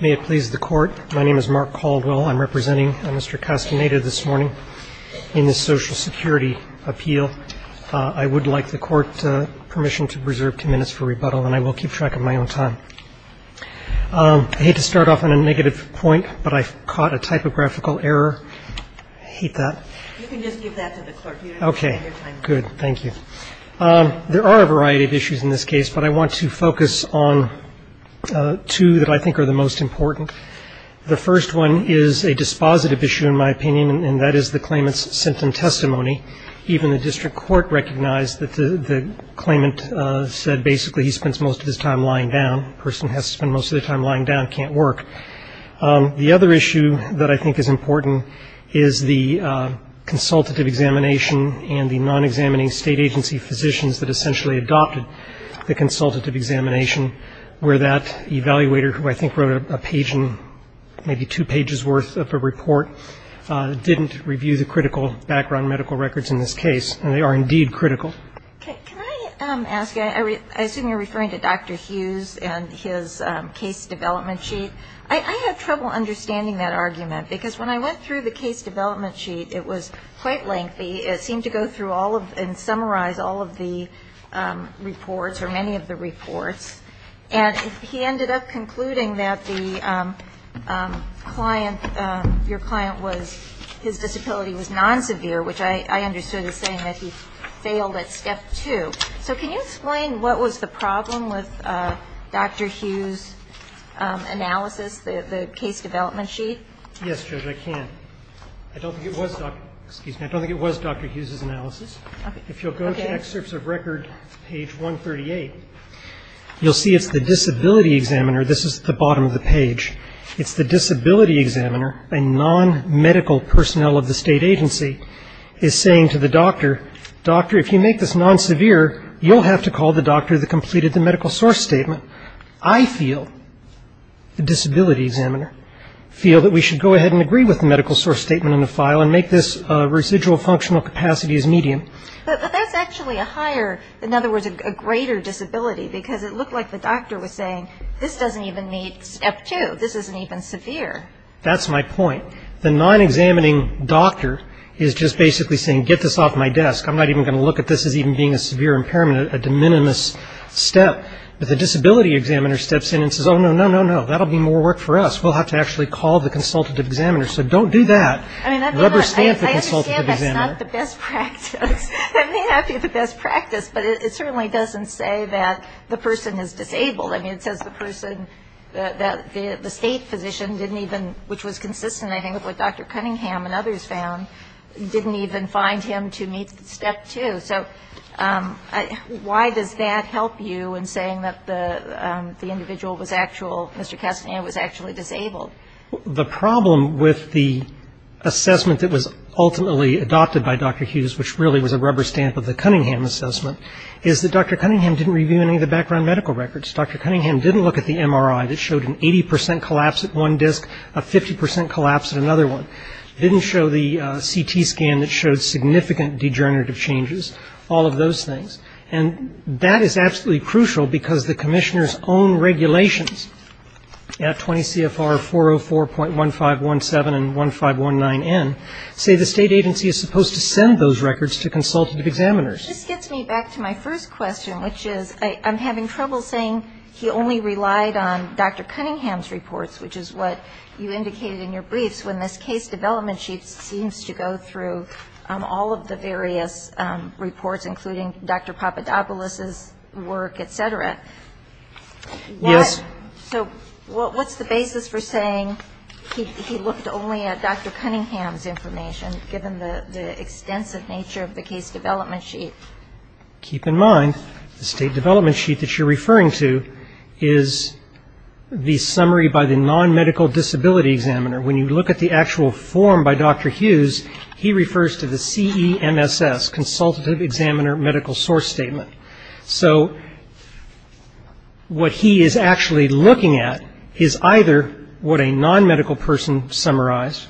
May it please the court. My name is Mark Caldwell. I'm representing Mr. Castaneda this morning in the Social Security Appeal. I would like the court permission to preserve two minutes for rebuttal and I will keep track of my own time. I hate to start off on a negative point, but I caught a typographical error. I hate that. You can just give that to the court. OK. Good. Thank you. There are a variety of issues in this case, but I want to focus on two that I think are the most important. The first one is a dispositive issue, in my opinion, and that is the claimant's symptom testimony. Even the district court recognized that the claimant said basically he spends most of his time lying down. A person has to spend most of their time lying down, can't work. The other issue that I think is important is the consultative examination and the non-examining state agency physicians that essentially adopted the consultative examination, where that evaluator, who I think wrote a page and maybe two pages worth of a report, didn't review the critical background medical records in this case. And they are indeed critical. Can I ask, I assume you're referring to Dr. Hughes and his case development sheet. I had trouble understanding that argument because when I went through the case development sheet, it was quite lengthy. It seemed to go through all of and summarize all of the reports or many of the reports. And he ended up concluding that the client, your client was, his disability was non-severe, which I understood as saying that he failed at step two. So can you explain what was the problem with Dr. Hughes' analysis, the case development sheet? Yes, Judge, I can. I don't think it was Dr. Hughes' analysis. If you'll go to excerpts of record, page 138, you'll see it's the disability examiner. This is the bottom of the page. It's the disability examiner, a non-medical personnel of the state agency, is saying to the doctor, doctor, if you make this non-severe, you'll have to call the doctor that completed the medical source statement. I feel, the disability examiner, feel that we should go ahead and agree with the medical source statement in the file and make this residual functional capacity as medium. But that's actually a higher, in other words, a greater disability, because it looked like the doctor was saying, this doesn't even meet step two. This isn't even severe. That's my point. The non-examining doctor is just basically saying, get this off my desk. I'm not even going to look at this as even being a severe impairment, a de minimis step. But the disability examiner steps in and says, oh, no, no, no, no, that'll be more work for us. We'll have to actually call the consultative examiner. So don't do that. Rubber stamp the consultative examiner. I understand that's not the best practice. It may not be the best practice, but it certainly doesn't say that the person is disabled. I mean, it says the person, the state physician didn't even, which was consistent, I think, with what Dr. Cunningham and others found, didn't even find him to meet step two. So why does that help you in saying that the individual was actual, Mr. Castaneda was actually disabled? Well, the problem with the assessment that was ultimately adopted by Dr. Hughes, which really was a rubber stamp of the Cunningham assessment, is that Dr. Cunningham didn't review any of the background medical records. Dr. Cunningham didn't look at the MRI that showed an 80 percent collapse at one disc, a 50 percent collapse at another one. Didn't show the CT scan that showed significant degenerative changes, all of those things. And that is absolutely crucial because the commissioner's own regulations at 20 CFR 404.1517 and 1519N say the state agency is supposed to send those records to consultative examiners. This gets me back to my first question, which is I'm having trouble saying he only relied on Dr. Cunningham's reports, which is what you indicated in your briefs, when this case development sheet seems to go through all of the various reports, including Dr. Papadopoulos's work, et cetera. Yes. So what's the basis for saying he looked only at Dr. Cunningham's information, given the extensive nature of the case development sheet? Keep in mind, the state development sheet that you're referring to is the summary by the non-medical disability examiner. When you look at the actual form by Dr. Hughes, he refers to the CEMSS, consultative examiner medical source statement. So what he is actually looking at is either what a non-medical person summarized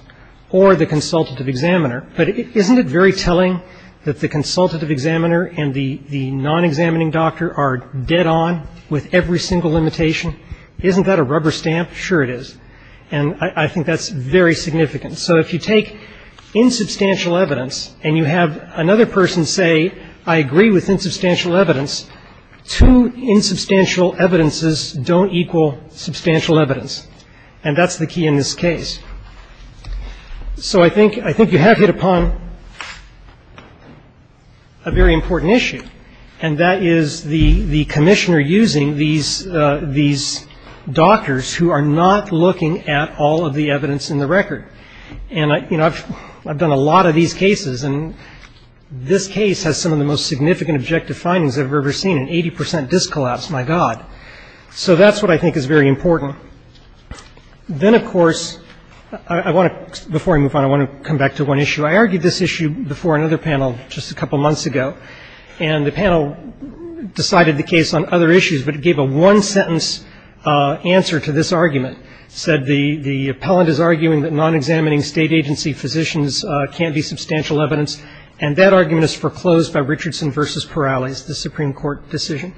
or the consultative examiner. But isn't it very telling that the consultative examiner and the non-examining doctor are dead on with every single limitation? Isn't that a rubber stamp? Sure it is. And I think that's very significant. So if you take insubstantial evidence and you have another person say, I agree with insubstantial evidence, two insubstantial evidences don't equal substantial evidence. And that's the key in this case. So I think you have hit upon a very important issue, and that is the commissioner using these doctors who are not looking at all of the evidence in the record. And, you know, I've done a lot of these cases, and this case has some of the most significant objective findings I've ever seen, an 80 percent disc collapse, my God. So that's what I think is very important. Then, of course, I want to, before I move on, I want to come back to one issue. I argued this issue before another panel just a couple months ago. And the panel decided the case on other issues, but it gave a one-sentence answer to this argument. It said the appellant is arguing that non-examining state agency physicians can't be substantial evidence, and that argument is foreclosed by Richardson v. Perales, the Supreme Court decision.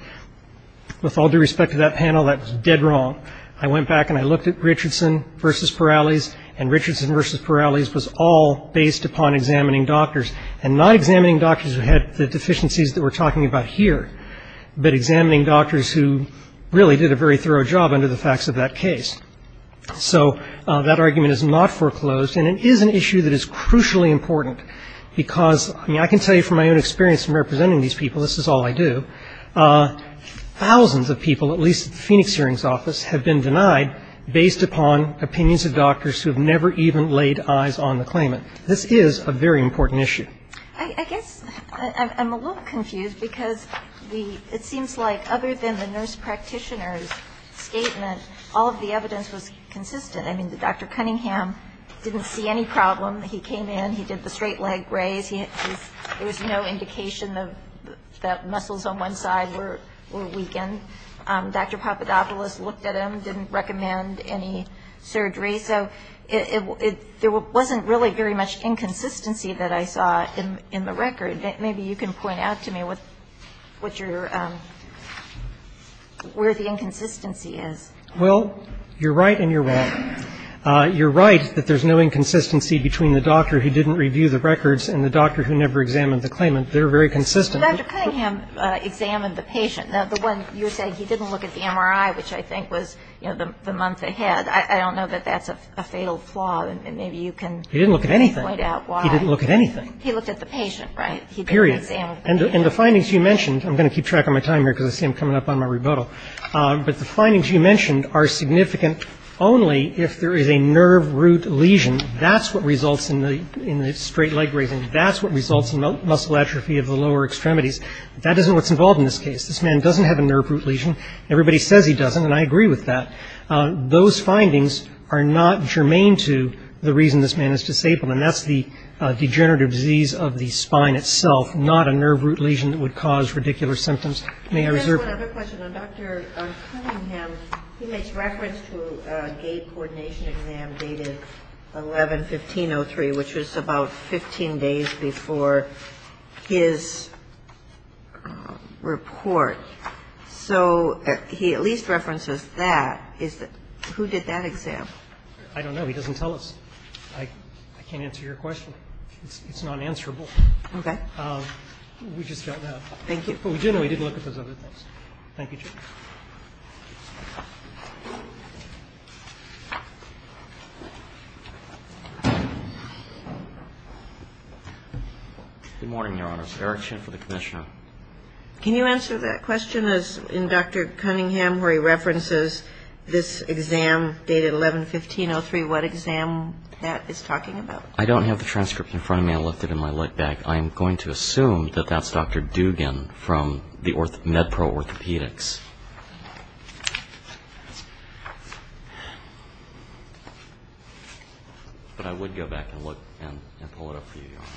With all due respect to that panel, that was dead wrong. I went back and I looked at Richardson v. Perales, and Richardson v. Perales was all based upon examining doctors, and not examining doctors who had the deficiencies that we're talking about here, but examining doctors who really did a very thorough job under the facts of that case. So that argument is not foreclosed, and it is an issue that is crucially important, because, I mean, I can tell you from my own experience in representing these people, this is all I do, thousands of people, at least at the Phoenix Hearing's office, have been denied based upon opinions of doctors who have never even laid eyes on the claimant. This is a very important issue. I guess I'm a little confused, because it seems like other than the nurse practitioner's statement, all of the evidence was consistent. I mean, Dr. Cunningham didn't see any problem. He came in. He did the straight leg raise. There was no indication that muscles on one side were weakened. Dr. Papadopoulos looked at him, didn't recommend any surgery. So there wasn't really very much inconsistency that I saw in the record. Maybe you can point out to me where the inconsistency is. Well, you're right and you're wrong. You're right that there's no inconsistency between the doctor who didn't review the records and the doctor who never examined the claimant. They're very consistent. Dr. Cunningham examined the patient. Now, the one you were saying, he didn't look at the MRI, which I think was, you know, the month ahead. I don't know that that's a fatal flaw, and maybe you can point out why. He didn't look at anything. He didn't look at anything. He looked at the patient, right? Period. He didn't examine the patient. And the findings you mentioned, I'm going to keep track of my time here, because I see I'm coming up on my rebuttal, but the findings you mentioned are significant only if there is a nerve root lesion. That's what results in the straight leg raising. That's what results in muscle atrophy of the lower extremities. That isn't what's involved in this case. This man doesn't have a nerve root lesion. Everybody says he doesn't, and I agree with that. Those findings are not germane to the reason this man is disabled, and that's the degenerative disease of the spine itself, not a nerve root lesion that would cause radicular symptoms. May I reserve? One other question. On Dr. Cunningham, he makes reference to a gait coordination exam dated 11-1503, which was about 15 days before his report. So he at least references that. Who did that exam? I don't know. He doesn't tell us. I can't answer your question. It's nonanswerable. Okay. We just felt that. Thank you. But we do know he did look at those other things. Thank you, Chief. Good morning, Your Honors. Eric Chin for the Commissioner. Can you answer that question? In Dr. Cunningham, where he references this exam dated 11-1503, what exam that is talking about? I don't have the transcript in front of me. I left it in my lug bag. I am going to assume that that's Dr. Dugan from MedPro Orthopedics. But I would go back and look and pull it up for you, Your Honor.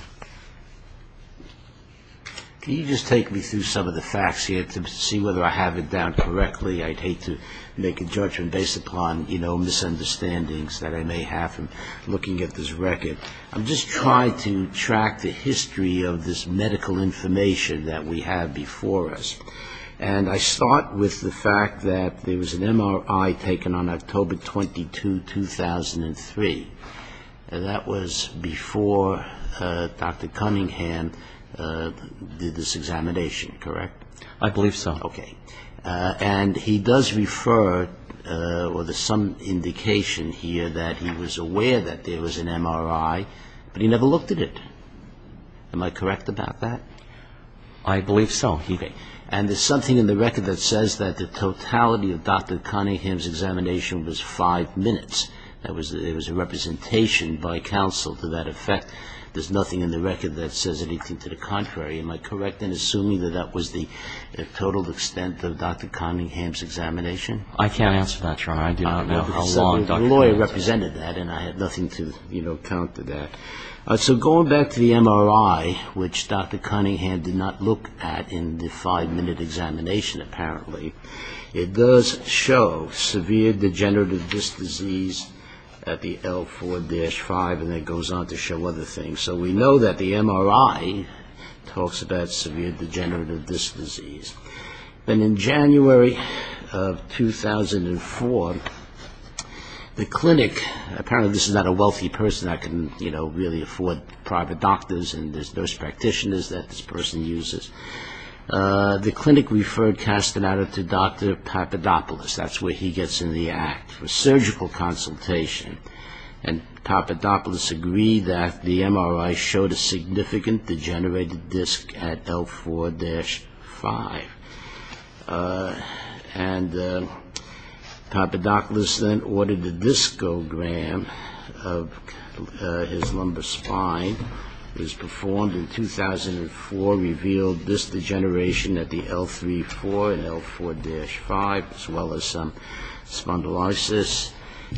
Can you just take me through some of the facts here to see whether I have it down correctly? I'd hate to make a judgment based upon, you know, misunderstandings that I may have from looking at this record. I'm just trying to track the history of this medical information that we have before us. And I start with the fact that there was an MRI taken on October 22, 2003. That was before Dr. Cunningham did this examination, correct? I believe so. Okay. And he does refer or there's some indication here that he was aware that there was an MRI, but he never looked at it. Am I correct about that? I believe so. Okay. And there's something in the record that says that the totality of Dr. Cunningham's examination was five minutes. There was a representation by counsel to that effect. There's nothing in the record that says anything to the contrary. Am I correct in assuming that that was the total extent of Dr. Cunningham's examination? I can't answer that, Your Honor. I do not know how long Dr. Cunningham's had. The lawyer represented that, and I have nothing to, you know, counter that. So going back to the MRI, which Dr. Cunningham did not look at in the five-minute examination, apparently, it does show severe degenerative disc disease at the L4-5, and it goes on to show other things. So we know that the MRI talks about severe degenerative disc disease. And in January of 2004, the clinic, apparently this is not a wealthy person that can, you know, really afford private doctors and there's nurse practitioners that this person uses. The clinic referred Castaneda to Dr. Papadopoulos. That's where he gets in the act, for surgical consultation. And Papadopoulos agreed that the MRI showed a significant degenerative disc at L4-5. And Papadopoulos then ordered a discogram of his lumbar spine. It was performed in 2004, revealed disc degeneration at the L3-4 and L4-5, as well as some spondylosis.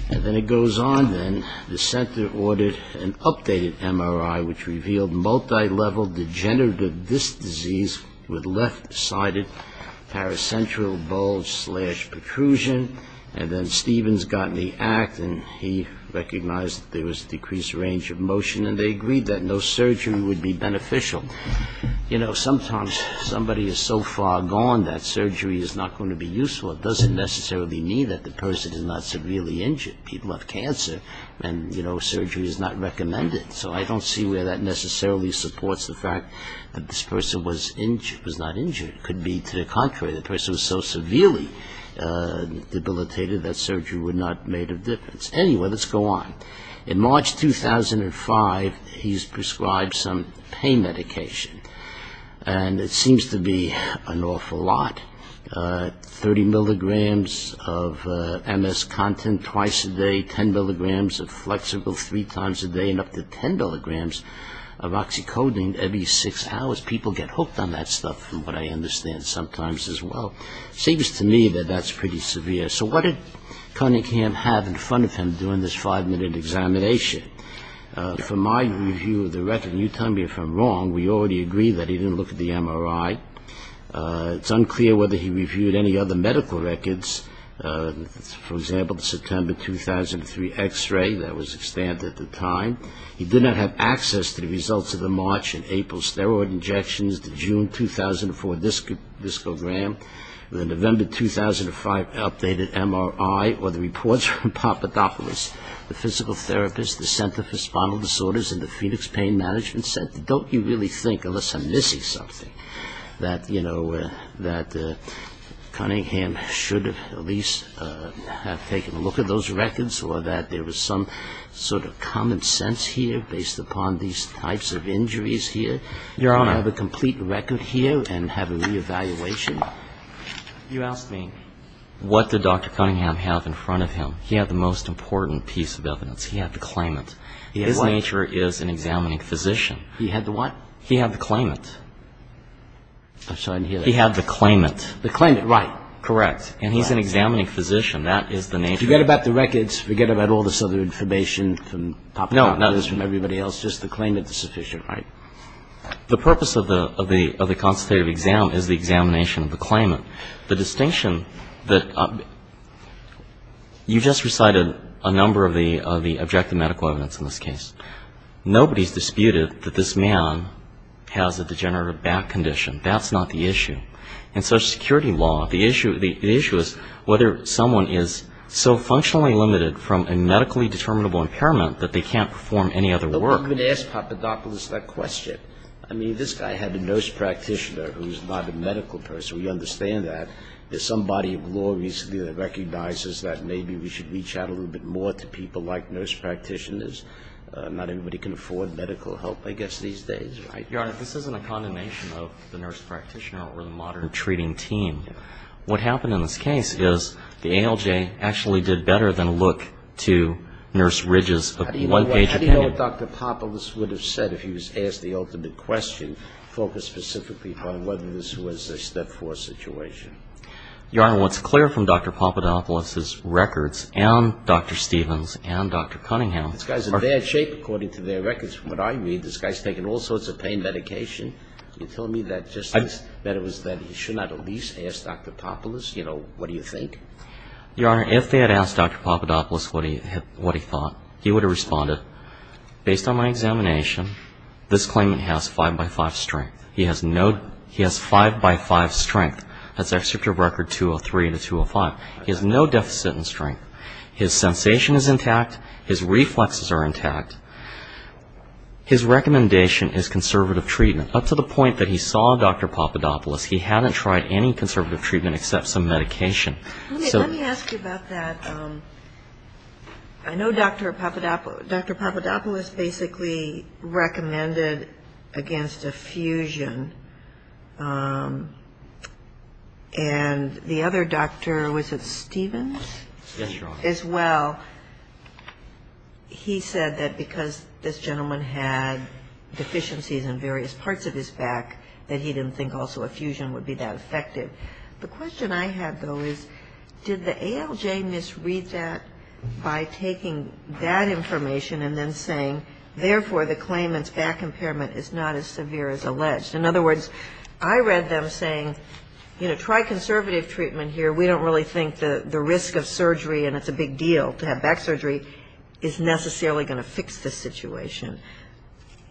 And then it goes on, then, the center ordered an updated MRI, which revealed multilevel degenerative disc disease with left-sided paracentral bulge slash protrusion. And then Stevens got in the act, and he recognized there was decreased range of motion, and they agreed that no surgery would be beneficial. You know, sometimes somebody is so far gone that surgery is not going to be useful. It doesn't necessarily mean that the person is not severely injured. People have cancer, and, you know, surgery is not recommended. So I don't see where that necessarily supports the fact that this person was not injured. It could be to the contrary. The person was so severely debilitated that surgery would not have made a difference. Anyway, let's go on. In March 2005, he's prescribed some pain medication. And it seems to be an awful lot. 30 milligrams of MS content twice a day, 10 milligrams of Flexible three times a day, and up to 10 milligrams of Oxycodone every six hours. People get hooked on that stuff, from what I understand, sometimes as well. Seems to me that that's pretty severe. So what did Cunningham have in front of him during this five-minute examination? From my view of the record, and you tell me if I'm wrong, we already agree that he didn't look at the MRI. It's unclear whether he reviewed any other medical records. For example, the September 2003 x-ray, that was extant at the time. He did not have access to the results of the March and April steroid injections, the June 2004 discogram, the November 2005 updated MRI, or the reports from Papadopoulos. The physical therapist, the Center for Spinal Disorders, and the Phoenix Pain Management Center. Don't you really think, unless I'm missing something, that, you know, that Cunningham should have at least have taken a look at those records, or that there was some sort of common sense here based upon these types of injuries here? Your Honor. Have a complete record here and have a reevaluation? You ask me what did Dr. Cunningham have in front of him? He had the most important piece of evidence. He had the claimant. His nature is an examining physician. He had the what? He had the claimant. I'm sorry to hear that. He had the claimant. The claimant, right. Correct. And he's an examining physician. That is the nature. Forget about the records. Forget about all this other information from Papadopoulos and everybody else. Just the claimant is sufficient, right? The purpose of the constitutive exam is the examination of the claimant. The distinction that you just recited a number of the objective medical evidence in this case. Nobody's disputed that this man has a degenerative back condition. That's not the issue. In Social Security law, the issue is whether someone is so functionally limited from a medically determinable impairment that they can't perform any other work. But I'm going to ask Papadopoulos that question. I mean, this guy had a nurse practitioner who's not a medical person. We understand that. There's some body of law recently that recognizes that maybe we should reach out a little bit more to people like but not everybody can afford medical help, I guess, these days, right? Your Honor, this isn't a condemnation of the nurse practitioner or the modern treating team. What happened in this case is the ALJ actually did better than look to Nurse Ridges' one-page opinion. How do you know what Dr. Papadopoulos would have said if he was asked the ultimate question, focused specifically on whether this was a Step 4 situation? Your Honor, what's clear from Dr. Papadopoulos' records and Dr. Stevens' and Dr. Cunningham's are that they had shaped, according to their records from what I read, this guy's taken all sorts of pain medication. You're telling me that just that it was that he should not have at least asked Dr. Papadopoulos, you know, what do you think? Your Honor, if they had asked Dr. Papadopoulos what he thought, he would have responded, based on my examination, this claimant has 5-by-5 strength. He has no he has 5-by-5 strength. That's except your record 203 to 205. He has no deficit in strength. His sensation is intact. His reflexes are intact. His recommendation is conservative treatment. Up to the point that he saw Dr. Papadopoulos, he hadn't tried any conservative treatment except some medication. Let me ask you about that. I know Dr. Papadopoulos basically recommended against a fusion. And the other doctor, was it Stevens? Yes, Your Honor. As well, he said that because this gentleman had deficiencies in various parts of his back, that he didn't think also a fusion would be that effective. The question I had, though, is did the ALJ misread that by taking that information and then saying, therefore, the claimant's back impairment is not as severe as alleged? In other words, I read them saying, you know, try conservative treatment here. We don't really think the risk of surgery, and it's a big deal to have back surgery, is necessarily going to fix this situation.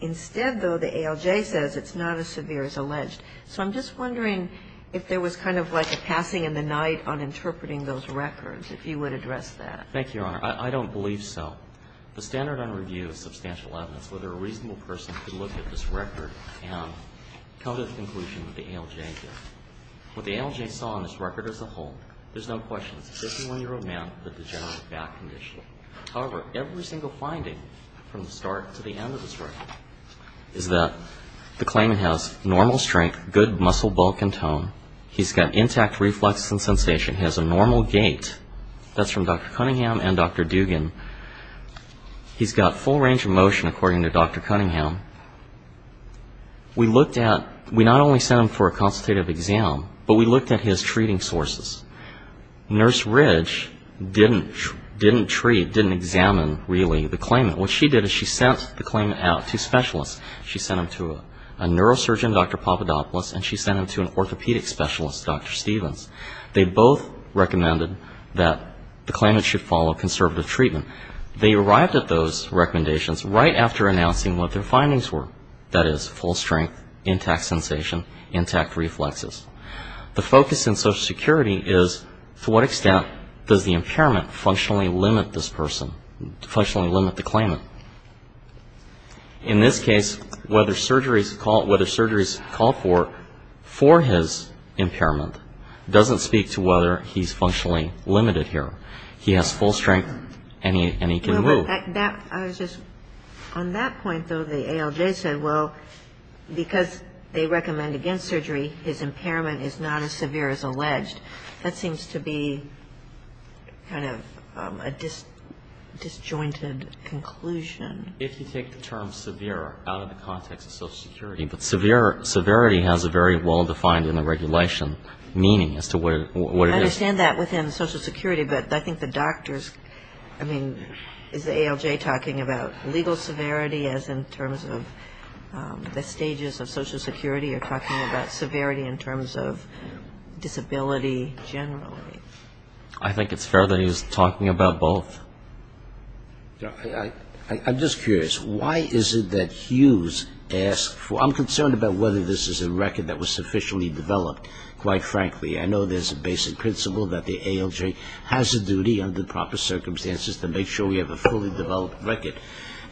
Instead, though, the ALJ says it's not as severe as alleged. So I'm just wondering if there was kind of like a passing in the night on interpreting those records, if you would address that. Thank you, Your Honor. I don't believe so. The standard on review of substantial evidence, whether a reasonable person could look at this record and come to the conclusion that the ALJ did. What the ALJ saw in this record as a whole, there's no question, it's a 51-year-old man with a degenerative back condition. However, every single finding from the start to the end of this record is that the claimant has normal strength, good muscle bulk and tone. He's got intact reflexes and sensation. He has a normal gait. That's from Dr. Cunningham and Dr. Dugan. He's got full range of motion, according to Dr. Cunningham. We looked at, we not only sent him for a consultative exam, but we looked at his treating sources. Nurse Ridge didn't treat, didn't examine, really, the claimant. What she did is she sent the claimant out to specialists. She sent him to a neurosurgeon, Dr. Papadopoulos, and she sent him to an orthopedic specialist, Dr. Stevens. They both recommended that the claimant should follow conservative treatment. They arrived at those recommendations right after announcing what their findings were, that is, full strength, intact sensation, intact reflexes. The focus in Social Security is to what extent does the impairment functionally limit this person, functionally limit the claimant. In this case, whether surgery is called for for his impairment doesn't speak to whether he's functionally limited here. He has full strength, and he can move. But that, I was just, on that point, though, the ALJ said, well, because they recommend against surgery, his impairment is not as severe as alleged. That seems to be kind of a disjointed conclusion. If you take the term severe out of the context of Social Security, but severity has a very well-defined in the regulation meaning as to what it is. I understand that within Social Security, but I think the doctors, I mean, is the ALJ talking about legal severity as in terms of the stages of Social Security, or talking about severity in terms of disability generally? I think it's fair that he's talking about both. I'm just curious. Why is it that Hughes asks for, I'm concerned about whether this is a record that was sufficiently developed, quite frankly. I know there's a basic principle that the ALJ has a duty under proper circumstances to make sure we have a fully developed record.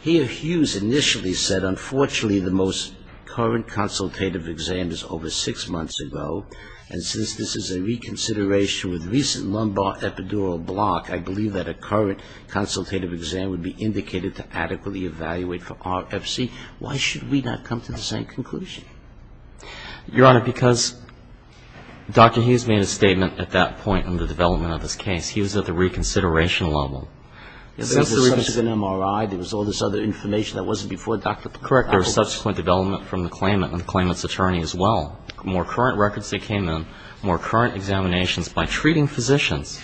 Here, Hughes initially said, unfortunately the most current consultative exam is over six months ago, and since this is a reconsideration with recent lumbar epidural block, I believe that a current consultative exam would be indicated to adequately evaluate for RFC. Why should we not come to the same conclusion? Your Honor, because Dr. Hughes made a statement at that point in the development of this case. He was at the reconsideration level. There was an MRI. There was all this other information that wasn't before. Correct. There was subsequent development from the claimant and the claimant's attorney as well. More current records that came in, more current examinations by treating physicians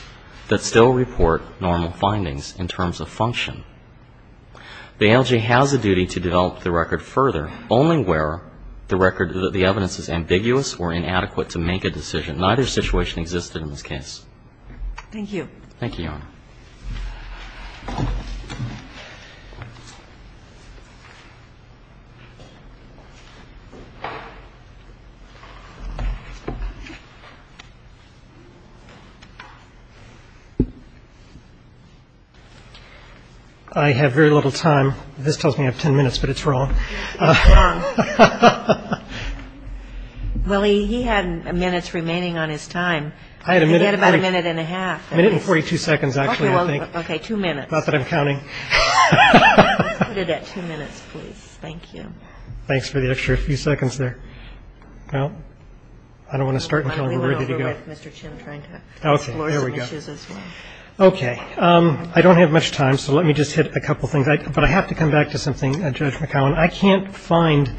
that still report normal findings in terms of function. The ALJ has a duty to develop the record further, only where the record, the evidence is ambiguous or inadequate to make a decision. Neither situation existed in this case. Thank you. Thank you, Your Honor. I have very little time. This tells me I have 10 minutes, but it's wrong. It's wrong. Well, he had minutes remaining on his time. He had about a minute and a half. A minute and 42 seconds, actually, I think. Okay, two minutes. Not that I'm counting. Let's put it at two minutes, please. Thank you. Thanks for the extra few seconds there. Well, I don't want to start until we're ready to go. We'll go over with Mr. Chin trying to explore some issues as well. Okay, there we go. Okay. I don't have much time, so let me just hit a couple things. But I have to come back to something, Judge McCowan. I can't find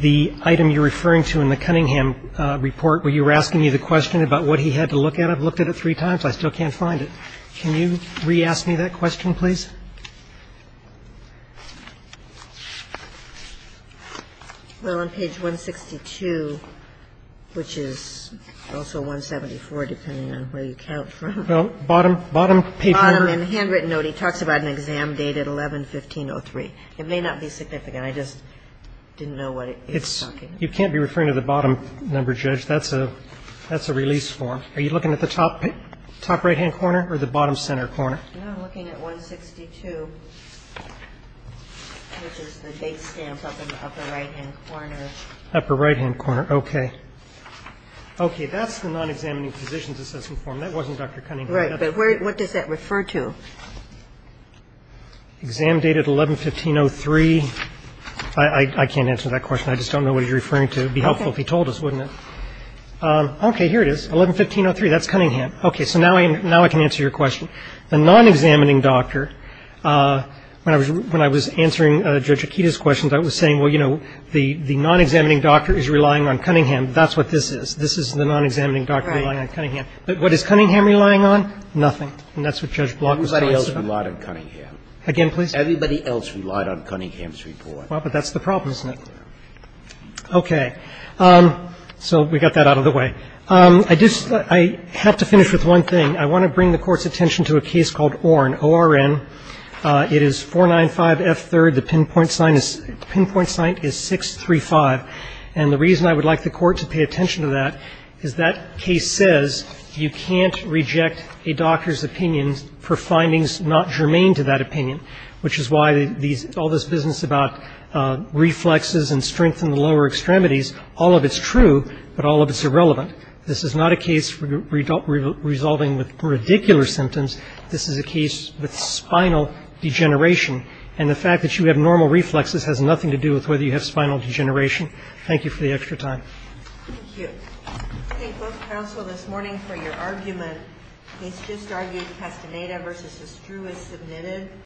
the item you're referring to in the Cunningham report where you were asking me the question about what he had to look at. I've looked at it three times. I still can't find it. Can you re-ask me that question, please? Well, on page 162, which is also 174, depending on where you count from. Well, bottom paper. Bottom, in the handwritten note, he talks about an exam date at 11-15-03. It may not be significant. I just didn't know what he was talking about. You can't be referring to the bottom number, Judge. That's a release form. Are you looking at the top right-hand corner or the bottom center corner? No, I'm looking at 162, which is the date stamp up in the upper right-hand corner. Upper right-hand corner. Okay. Okay. That's the non-examining positions assessment form. That wasn't Dr. Cunningham. Right. But what does that refer to? Exam date at 11-15-03. I can't answer that question. I just don't know what he's referring to. It would be helpful if he told us, wouldn't it? Okay. Here it is, 11-15-03. That's Cunningham. Okay. So now I can answer your question. The non-examining doctor, when I was answering Judge Akita's questions, I was saying, well, you know, the non-examining doctor is relying on Cunningham. That's what this is. This is the non-examining doctor relying on Cunningham. But what is Cunningham relying on? Nothing. And that's what Judge Block was talking about. Everybody else relied on Cunningham. Again, please. Everybody else relied on Cunningham's report. Well, but that's the problem, isn't it? Yeah. Okay. So we got that out of the way. I have to finish with one thing. I want to bring the Court's attention to a case called Orn, O-R-N. It is 495F3rd. The pinpoint sign is 635. And the reason I would like the Court to pay attention to that is that case says you can't reject a doctor's opinion for findings not germane to that opinion, which is why all this business about reflexes and strength in the lower extremities, all of it's true, but all of it's irrelevant. This is not a case resolving with radicular symptoms. This is a case with spinal degeneration. And the fact that you have normal reflexes has nothing to do with whether you have spinal degeneration. Thank you for the extra time. Thank you. I thank both counsel this morning for your argument. The case just argued Castaneda v. Estruis submitted.